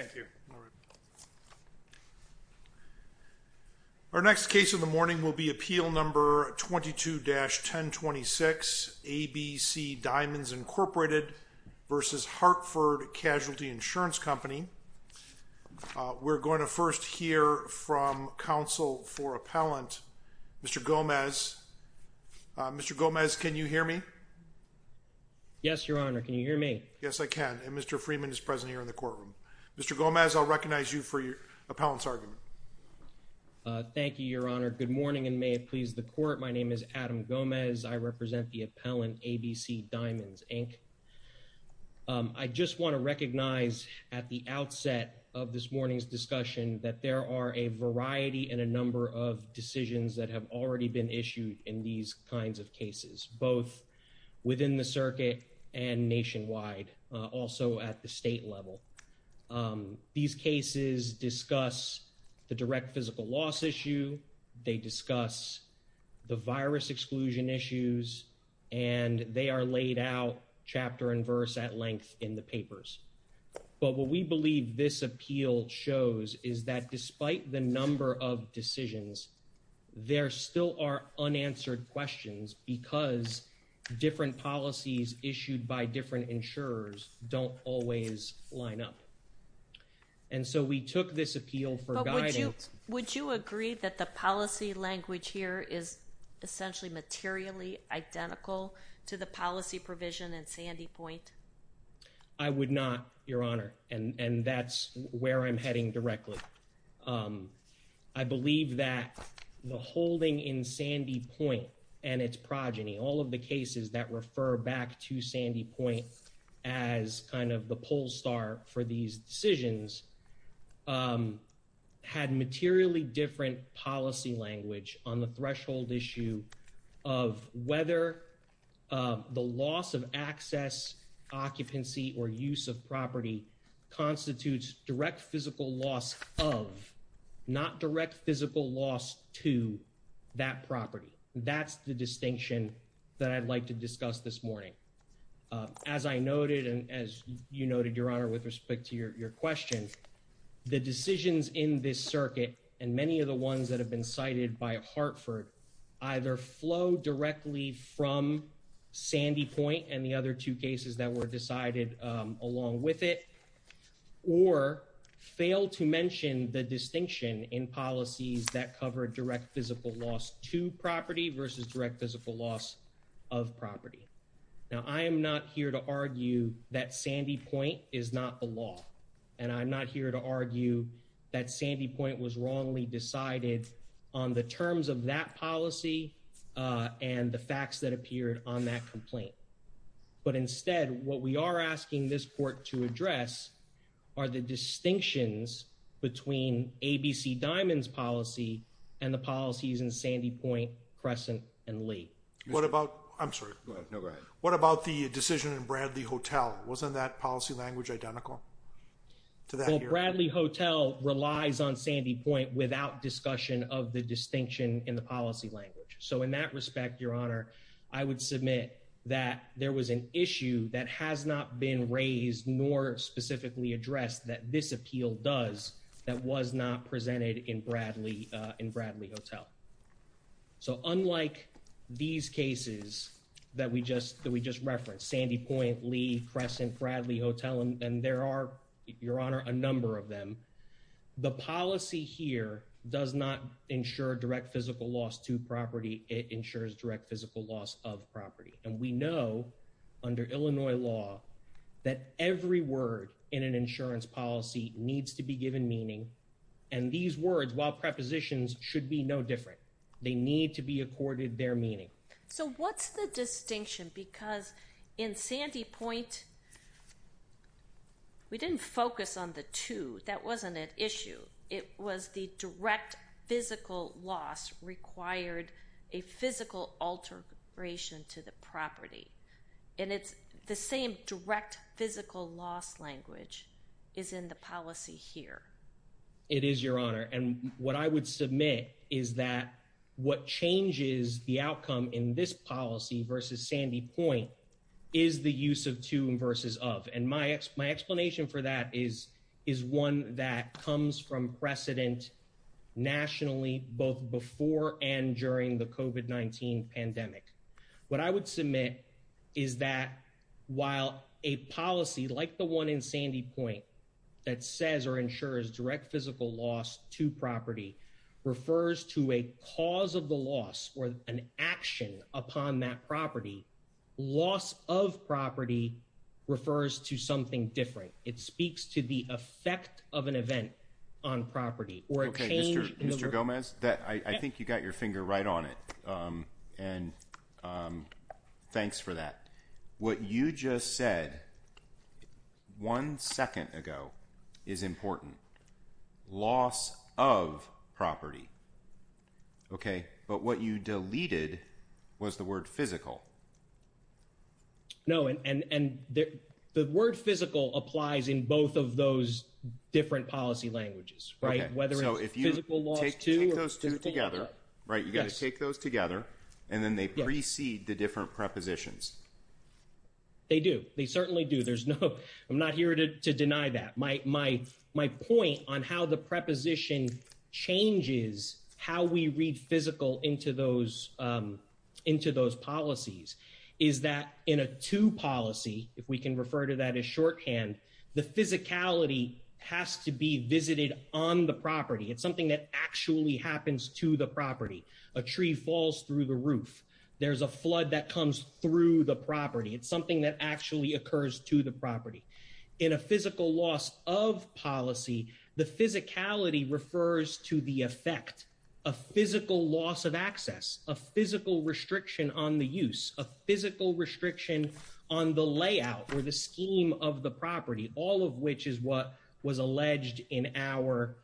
l. Thank you. Our next case in the morning will be appeal number 22-1026 ABC Diamonds Incorporated v. Hartford Casualty Insurance Company. We're going to first hear from counsel for Appellant Mr. Gomez. Mr. Gomez can you hear me? Yes, your honor. Can you hear me? Yes I can. Mr. Freeman is present in the courtroom. Mr. Gomez I'll recognize you for your appellant's argument. Thank you your honor. Good morning and may it please the court. My name is Adam Gomez. I represent the appellant ABC Diamonds Inc. I just want to recognize at the outset of this morning's discussion that there are a variety and a number of decisions that have already been issued in these kinds of cases both within the circuit and nationwide also at the state level. These cases discuss the direct physical loss issue. They discuss the virus exclusion issues and they are laid out chapter and verse at length in the papers. But what we believe this appeal shows is that despite the number of decisions there still are unanswered questions because different policies issued by different insurers don't always line up. And so we took this appeal for guidance. Would you agree that the policy language here is essentially materially identical to the policy provision in Sandy Point? I would not your honor and that's where I'm heading directly. I believe that the holding in Sandy Point and its progeny all of the cases that refer back to Sandy Point as kind of the poll star for these decisions had materially different policy language on the threshold issue of whether the loss of access occupancy or use of property constitutes direct physical loss of not direct physical loss to that property. That's the distinction that I'd like to discuss this morning. As I noted and as you noted your honor with respect to your question the decisions in this circuit and many of the ones that have been cited by Hartford either flow directly from Sandy Point and the other two cases that were decided along with it or fail to mention the distinction in policies that cover direct physical loss to property versus direct physical loss of property. Now I am not here to argue that Sandy Point is not the law and I'm not here to argue that the terms of that policy and the facts that appeared on that complaint but instead what we are asking this court to address are the distinctions between ABC Diamond's policy and the policies in Sandy Point Crescent and Lee. What about I'm sorry what about the decision in Bradley Hotel wasn't that policy language identical to that Bradley Hotel relies on Sandy Point without discussion of the distinction in the policy language. So in that respect your honor I would submit that there was an issue that has not been raised nor specifically addressed that this appeal does that was not presented in Bradley in Bradley Hotel. So unlike these cases that we just that we just referenced Sandy Point Lee Crescent Bradley Hotel and there are your honor a number of them the policy here does not ensure direct physical loss to property it ensures direct physical loss of property and we know under Illinois law that every word in an insurance policy needs to be given meaning and these words while prepositions should be no different they need to be accorded their meaning. So what's the distinction because in Sandy Point we didn't focus on the two that wasn't an issue it was the direct physical loss required a physical alteration to the property and it's the same direct physical loss language is in the policy here. It is your honor and what I would submit is that what changes the outcome in this policy versus Sandy Point is the use of two verses of and my explanation for that is is one that comes from precedent nationally both before and during the COVID-19 pandemic. What I would submit is that while a policy like the one in Sandy Point that says or ensures direct physical loss to property refers to a cause of the loss or an action upon that property loss of property refers to something different it speaks to the effect of an event on property. Okay Mr. Gomez that I think you got your finger right on it and thanks for that. What you just said one second ago is important loss of property okay but what you deleted was the word physical. No and and and the word physical applies in both of those different policy languages right whether if you take those two together right you got to take those together and then they precede the different prepositions. They do they certainly do there's no I'm not here to deny that my my point on how the preposition changes how we read physical into those into those policies is that in a two policy if we can refer to that as shorthand the physicality has to be visited on the property it's something that actually happens to the property a tree falls through the roof there's a flood that comes through the property it's something that actually occurs to the property. In a physical loss of policy the physicality refers to the effect a physical loss of access a physical restriction on the use a physical restriction on the layout or the scheme of the property all of which is what was alleged in our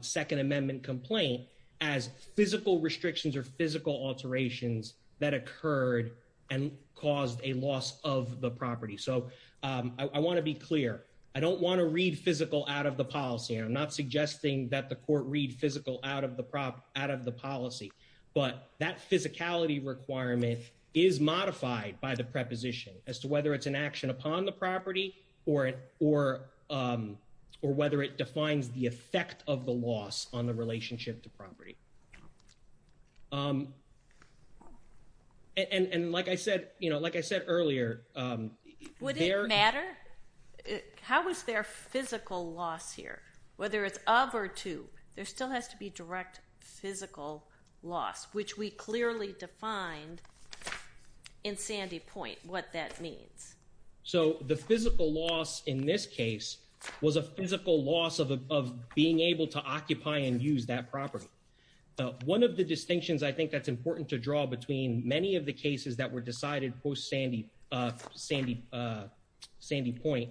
second amendment complaint as physical restrictions or physical alterations that occurred and caused a loss of the property. So I want to be clear I don't want to read physical out of the policy I'm not suggesting that the court read physical out of the prop out of the policy but that physicality requirement is modified by the preposition as to whether it's an action upon the property or it or or whether it defines the effect of the loss on the relationship to property. And and like I said you know like I said earlier would it matter how was their physical loss here whether it's of or to there still has to be direct physical loss which we clearly defined in Sandy Point what that means. So the physical loss in this case was a physical loss of being able to occupy and use that property. One of the distinctions I think that's important to draw between many of the cases that were decided post Sandy Sandy Sandy Point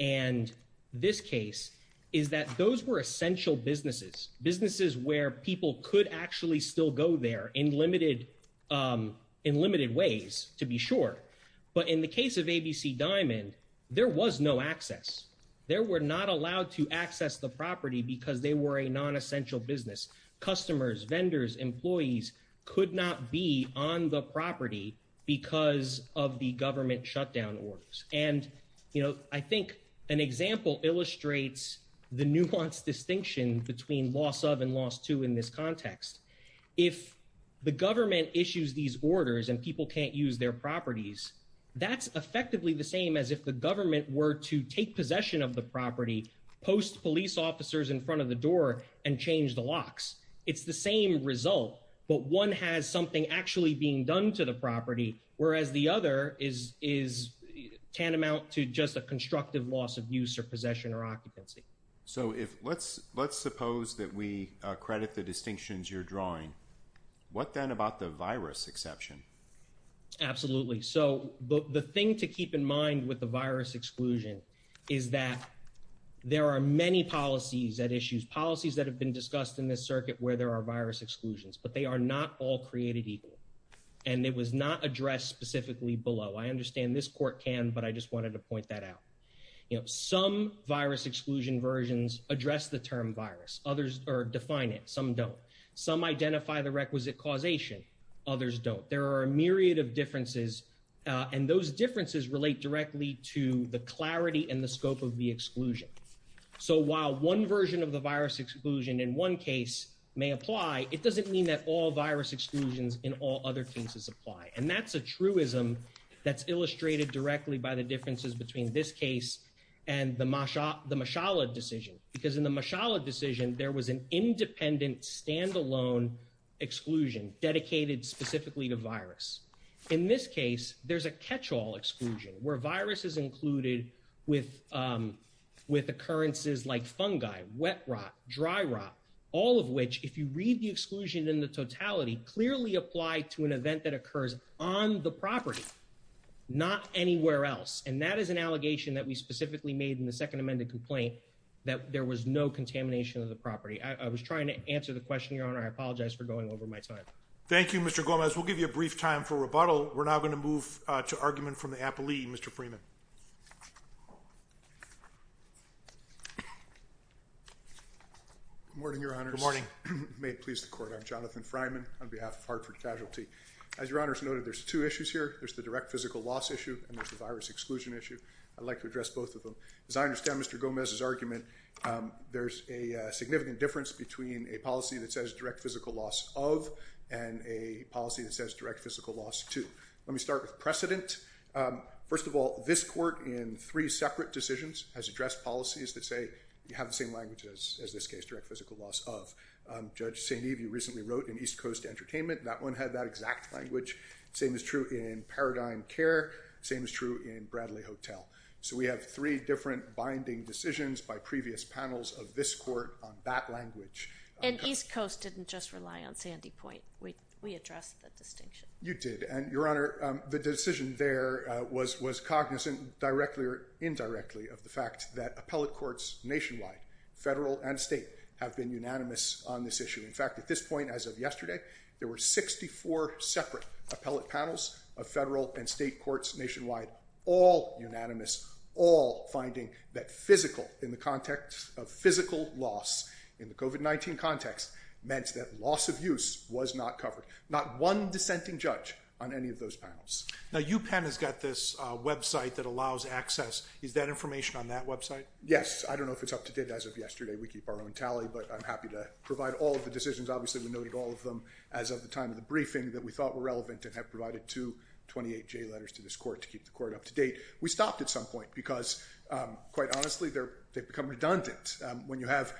and this case is that those were essential businesses businesses where people could actually still go there in limited in limited ways to be sure. But in the case of ABC Diamond there was no access there were not allowed to access the property because they were a non-essential business customers vendors employees could not be on the property because of the government shutdown orders. And you know I think an example illustrates the nuance distinction between loss of and loss to in this context. If the government issues these orders and people can't use their properties that's effectively the same as if the government were to take possession of the property post police officers in front of the door and change the locks. It's the same result but one has something actually being done to the property whereas the other is is tantamount to just a constructive loss of use or possession or occupancy. So if let's let's suppose that we credit the distinctions you're drawing what then about the virus exception. Absolutely. So the thing to keep in mind with the virus exclusion is that there are many policies that issues policies that have been discussed in this circuit where there are virus exclusions but they are not all created equal and it was not addressed specifically below. I understand this court can but I just wanted to point that out. You know some virus exclusion versions address the term virus others or define it. Some don't. Some identify the requisite causation. Others don't. There are a myriad of differences and those differences relate directly to the clarity and the scope of the exclusion. So while one version of the virus exclusion in one case may apply it doesn't mean that all virus exclusions in all other cases apply and that's a truism that's illustrated directly by the differences between this case and the Masha the Mashallah decision because in the Mashallah decision there was an independent standalone exclusion dedicated specifically to virus. In this case there's a catch-all exclusion where virus is included with with occurrences like fungi wet rot dry rot all of which if you read the exclusion in the totality clearly apply to an event that occurs on the property not anywhere else and that is an allegation that we specifically made in the second amended complaint that there was no contamination of the property. I was trying to answer the question your honor I apologize for going over my time. Thank you Mr. Gomez. We'll give you a brief time for rebuttal. We're now going to move to argument from the appellee Mr. Freeman. Good morning your honors. Good morning. May it please the court I'm Jonathan Fryman on behalf of Hartford Casualty. As your honors noted there's two issues here. There's the direct physical loss issue and there's the virus exclusion issue. I'd like to address both of them. As I understand Mr. Gomez's argument there's a significant difference between a policy that says direct physical loss of and a policy that says direct physical loss to. Let me start with precedent. First of all this court in three separate decisions has addressed policies that say you have the same language as this case direct physical loss of. Judge St. Eve you recently wrote in East Coast Entertainment that one had that exact language. Same is true in Paradigm Care. Same is true in Bradley Hotel. So we have three different binding decisions by previous panels of this court on that language. And East Coast didn't just rely on Sandy Point. We addressed the distinction. You did and your honor the decision there was cognizant directly or indirectly of the fact that appellate courts nationwide federal and state have been unanimous on this issue. In fact at this point as of yesterday there were 64 separate appellate panels of federal and state courts nationwide all unanimous all finding that physical in the context of physical loss in the COVID-19 context meant that loss of use was not covered. Not one dissenting judge on any of those panels. Now UPenn has got this website that allows access. Is that information on that website? Yes I don't know if it's up to date as of yesterday. We keep our own tally but I'm happy to provide all of the decisions. Obviously we noted all of them as of the time of the briefing that we thought were relevant and have provided to 28 J letters to this court to keep the court up to date. We stopped at some point because quite honestly they've become redundant when you have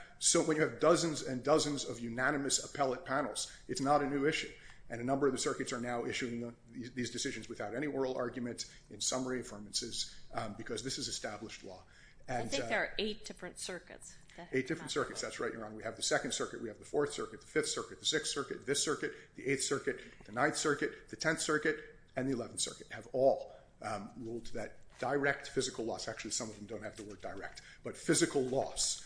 dozens and dozens of unanimous appellate panels. It's not a new issue and a number of the circuits are now issuing these decisions without any oral argument in summary affirmances because this is established law. I think there are eight different circuits. Eight different circuits. That's right your honor. We have the second circuit. We have the fourth circuit. The fifth circuit. The sixth circuit. This circuit. The eighth circuit. The ninth circuit. The tenth circuit. And the eleventh circuit have all ruled that direct physical loss, actually some of them don't have the word direct, but physical loss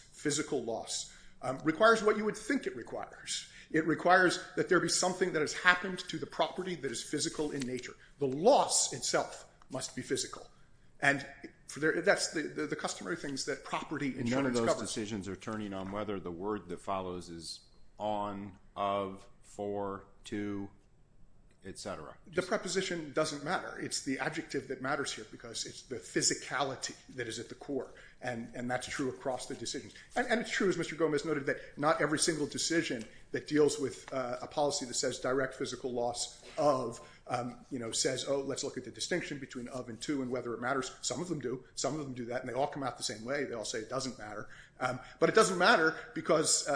requires what you would think it requires. It requires that there be something that has happened to the property that is physical in nature. The loss itself must be physical. And that's the customary things that property in general discovers. None of those decisions are turning on whether the word that follows is on, of, for, to etc. The preposition doesn't matter. It's the adjective that matters here because it's the physicality that is at the core. And that's true across the decisions. And it's true, as Mr. Gomez noted, that not every single decision that deals with a policy that says direct physical loss of, you know, says, oh, let's look at the distinction between of and to and whether it matters. Some of them do. Some of them do that. And they all come out the same way. They all say it doesn't matter. But it doesn't matter because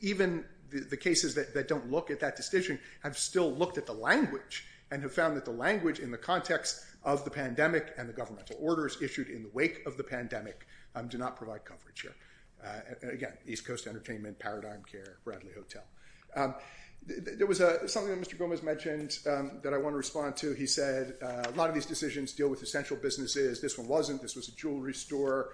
even the cases that don't look at that decision have still looked at the language and have found that the language in the context of the pandemic and the governmental orders issued in the wake of the pandemic do not provide coverage here. Again, East Coast Entertainment, Paradigm Care, Bradley Hotel. There was something that Mr. Gomez mentioned that I want to respond to. He said a lot of these decisions deal with essential businesses. This one wasn't. This was a jewelry store.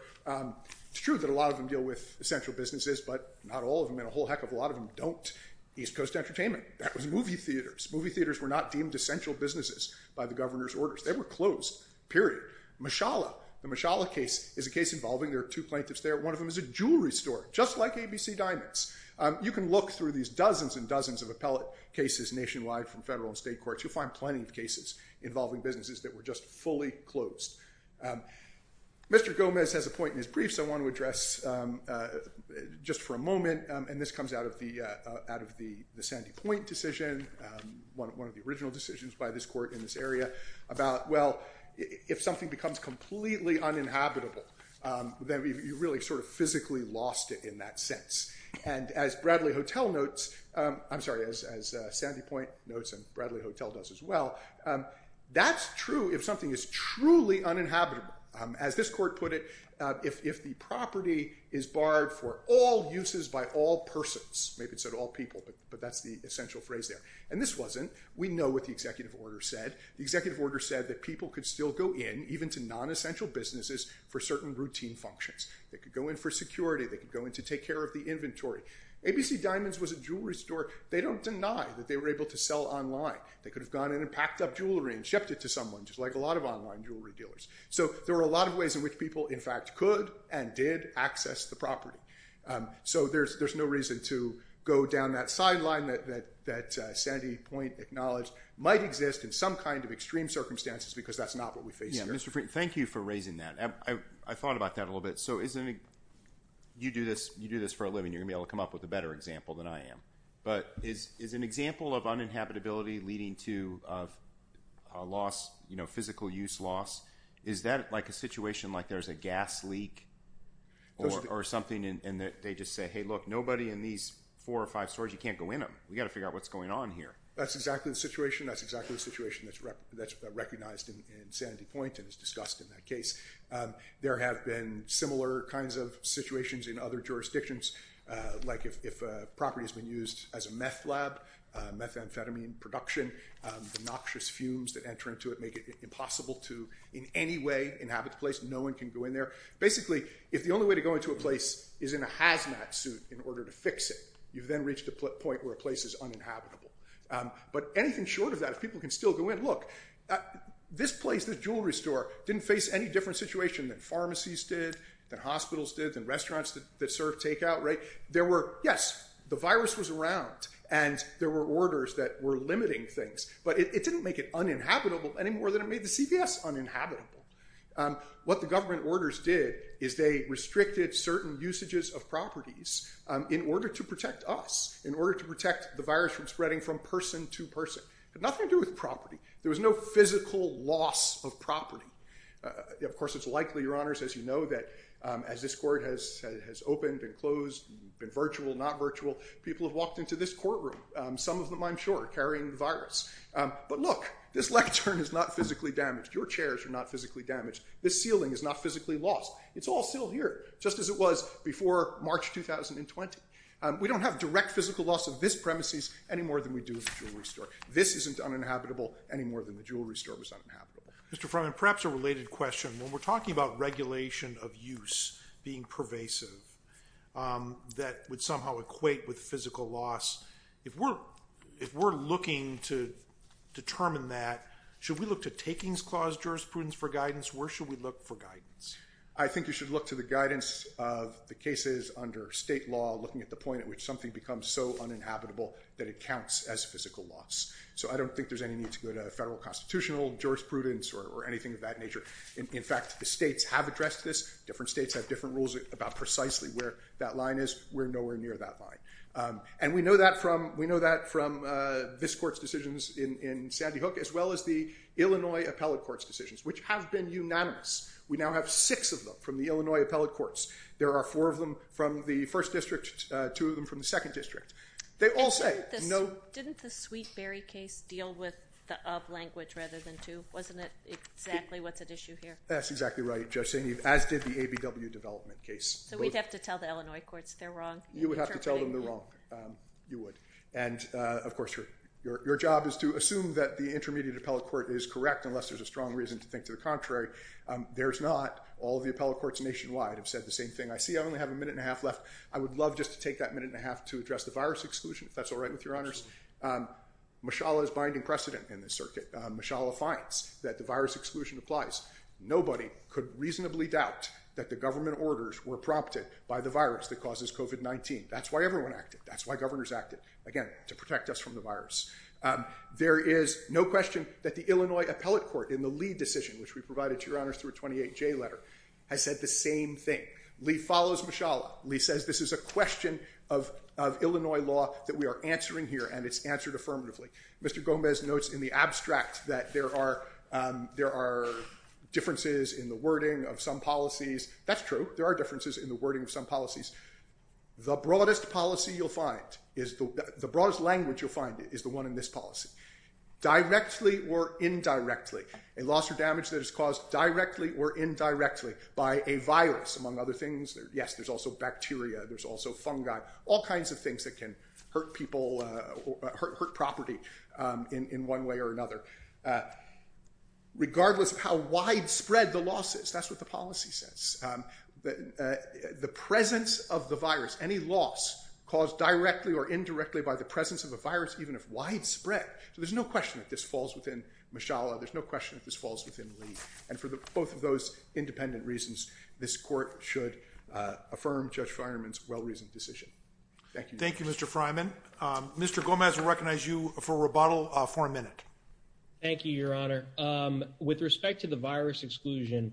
It's true that a lot of them deal with essential businesses, but not all of them and a whole heck of a lot of them don't. East Coast Entertainment. That was movie theaters. Movie theaters were not deemed essential businesses by the governor's orders. They were closed, period. Mashallah. The Mashallah case is a case involving, there are two plaintiffs there, one of them is a jewelry store, just like ABC Diamonds. You can look through these dozens and dozens of appellate cases nationwide from federal and state courts. You'll find plenty of cases involving businesses that were just fully closed. Mr. Gomez has a point in his brief, so I want to address just for a moment, and this comes out of the Sandy Point decision, one of the original decisions by this court in this area about, well, if something becomes completely uninhabitable, then you really sort of physically lost it in that sense. As Bradley Hotel notes, I'm sorry, as Sandy Point notes and Bradley Hotel does as well, that's true if something is truly uninhabitable. As this court put it, if the property is barred for all uses by all persons, maybe it said all people, but that's the essential phrase there. This wasn't. We know what the executive order said. The executive order said that people could still go in, even to non-essential businesses, for certain routine functions. They could go in for security. They could go in to take care of the inventory. ABC Diamonds was a jewelry store. They don't deny that they were able to sell online. They could have gone in and packed up jewelry and shipped it to someone, just like a lot of online jewelry dealers. There were a lot of ways in which people, in fact, could and did access the property. There's no reason to go down that sideline that Sandy Point acknowledged might exist in some kind of extreme circumstances, because that's not what we face here. Yeah. Mr. Freeman, thank you for raising that. I thought about that a little bit. You do this for a living. You're going to be able to come up with a better example than I am, but is an example of uninhabitability leading to a loss, physical use loss, is that like a situation like there's a gas leak or something, and they just say, hey, look, nobody in these four or five stores, you can't go in them. We've got to figure out what's going on here. That's exactly the situation. That's exactly the situation that's recognized in Sandy Point and is discussed in that case. There have been similar kinds of situations in other jurisdictions, like if a property has been used as a meth lab, methamphetamine production, the noxious fumes that enter into it make it impossible to in any way inhabit the place. No one can go in there. Basically, if the only way to go into a place is in a hazmat suit in order to fix it, you've then reached a point where a place is uninhabitable. But anything short of that, if people can still go in, look, this place, this jewelry store, didn't face any different situation than pharmacies did, than hospitals did, than restaurants that serve takeout, right? There were, yes, the virus was around, and there were orders that were limiting things, but it didn't make it uninhabitable any more than it made the CVS uninhabitable. What the government orders did is they restricted certain usages of properties in order to protect us, in order to protect the virus from spreading from person to person. It had nothing to do with property. There was no physical loss of property. Of course, it's likely, your honors, as you know, that as this court has opened and closed, been virtual, not virtual, people have walked into this courtroom, some of them, I'm sure, carrying the virus. But look, this lectern is not physically damaged. Your chairs are not physically damaged. This ceiling is not physically lost. It's all still here, just as it was before March 2020. We don't have direct physical loss of this premises any more than we do of the jewelry store. This isn't uninhabitable any more than the jewelry store was uninhabitable. Mr. Freiman, perhaps a related question. When we're talking about regulation of use being pervasive, that would somehow equate with physical loss, if we're looking to determine that, should we look to takings clause jurisprudence for guidance? Where should we look for guidance? I think you should look to the guidance of the cases under state law, looking at the point at which something becomes so uninhabitable that it counts as physical loss. I don't think there's any need to go to a federal constitutional jurisprudence or anything of that nature. In fact, the states have addressed this. Different states have different rules about precisely where that line is. We're nowhere near that line. We know that from this court's decisions in Sandy Hook, as well as the Illinois appellate court's decisions, which have been unanimous. We now have six of them from the Illinois appellate courts. There are four of them from the first district, two of them from the second district. They all say, no- Did the ABW case deal with the of language rather than to? Wasn't it exactly what's at issue here? That's exactly right, Judge St. Eve, as did the ABW development case. So we'd have to tell the Illinois courts they're wrong? You would have to tell them they're wrong. You would. And, of course, your job is to assume that the intermediate appellate court is correct unless there's a strong reason to think to the contrary. There's not. All of the appellate courts nationwide have said the same thing. I see I only have a minute and a half left. I would love just to take that minute and a half to address the virus exclusion, if that's okay. Mishala is binding precedent in this circuit. Mishala finds that the virus exclusion applies. Nobody could reasonably doubt that the government orders were prompted by the virus that causes COVID-19. That's why everyone acted. That's why governors acted. Again, to protect us from the virus. There is no question that the Illinois appellate court in the Lee decision, which we provided to your honors through a 28J letter, has said the same thing. Lee follows Mishala. Lee says this is a question of Illinois law that we are answering here, and it's answered affirmatively. Mr. Gomez notes in the abstract that there are differences in the wording of some policies. That's true. There are differences in the wording of some policies. The broadest policy you'll find, the broadest language you'll find is the one in this policy. Directly or indirectly, a loss or damage that is caused directly or indirectly by a virus, among other things. Yes, there's also bacteria. There's also fungi. All kinds of things that can hurt people, hurt property in one way or another. Regardless of how widespread the loss is, that's what the policy says. The presence of the virus, any loss caused directly or indirectly by the presence of a virus, even if widespread. So there's no question that this falls within Mishala. There's no question that this falls within Lee. And for both of those independent reasons, this court should affirm Judge Feinerman's well-reasoned decision. Thank you. Thank you, Mr. Freiman. Mr. Gomez will recognize you for rebuttal for a minute. Thank you, Your Honor. With respect to the virus exclusion,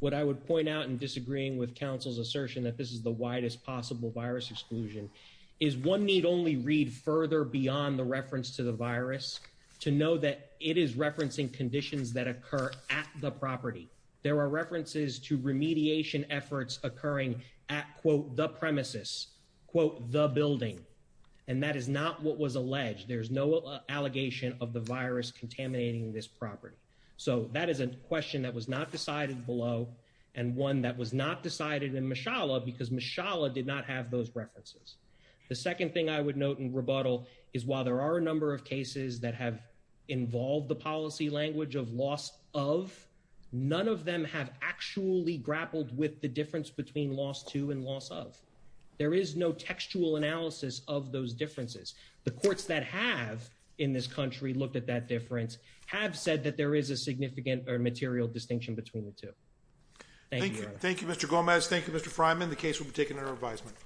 what I would point out in disagreeing with counsel's assertion that this is the widest possible virus exclusion is one need only read further beyond the reference to the virus to know that it is referencing conditions that occur at the property. There are references to remediation efforts occurring at, quote, the premises, quote, the building. And that is not what was alleged. There's no allegation of the virus contaminating this property. So that is a question that was not decided below and one that was not decided in Mishala because Mishala did not have those references. The second thing I would note in rebuttal is while there are a number of cases that have involved the policy language of loss of, none of them have actually grappled with the difference between loss to and loss of. There is no textual analysis of those differences. The courts that have in this country looked at that difference have said that there is a significant or material distinction between the two. Thank you, Your Honor. Thank you, Mr. Gomez. Thank you, Mr. Freiman. The case will be taken under advisement.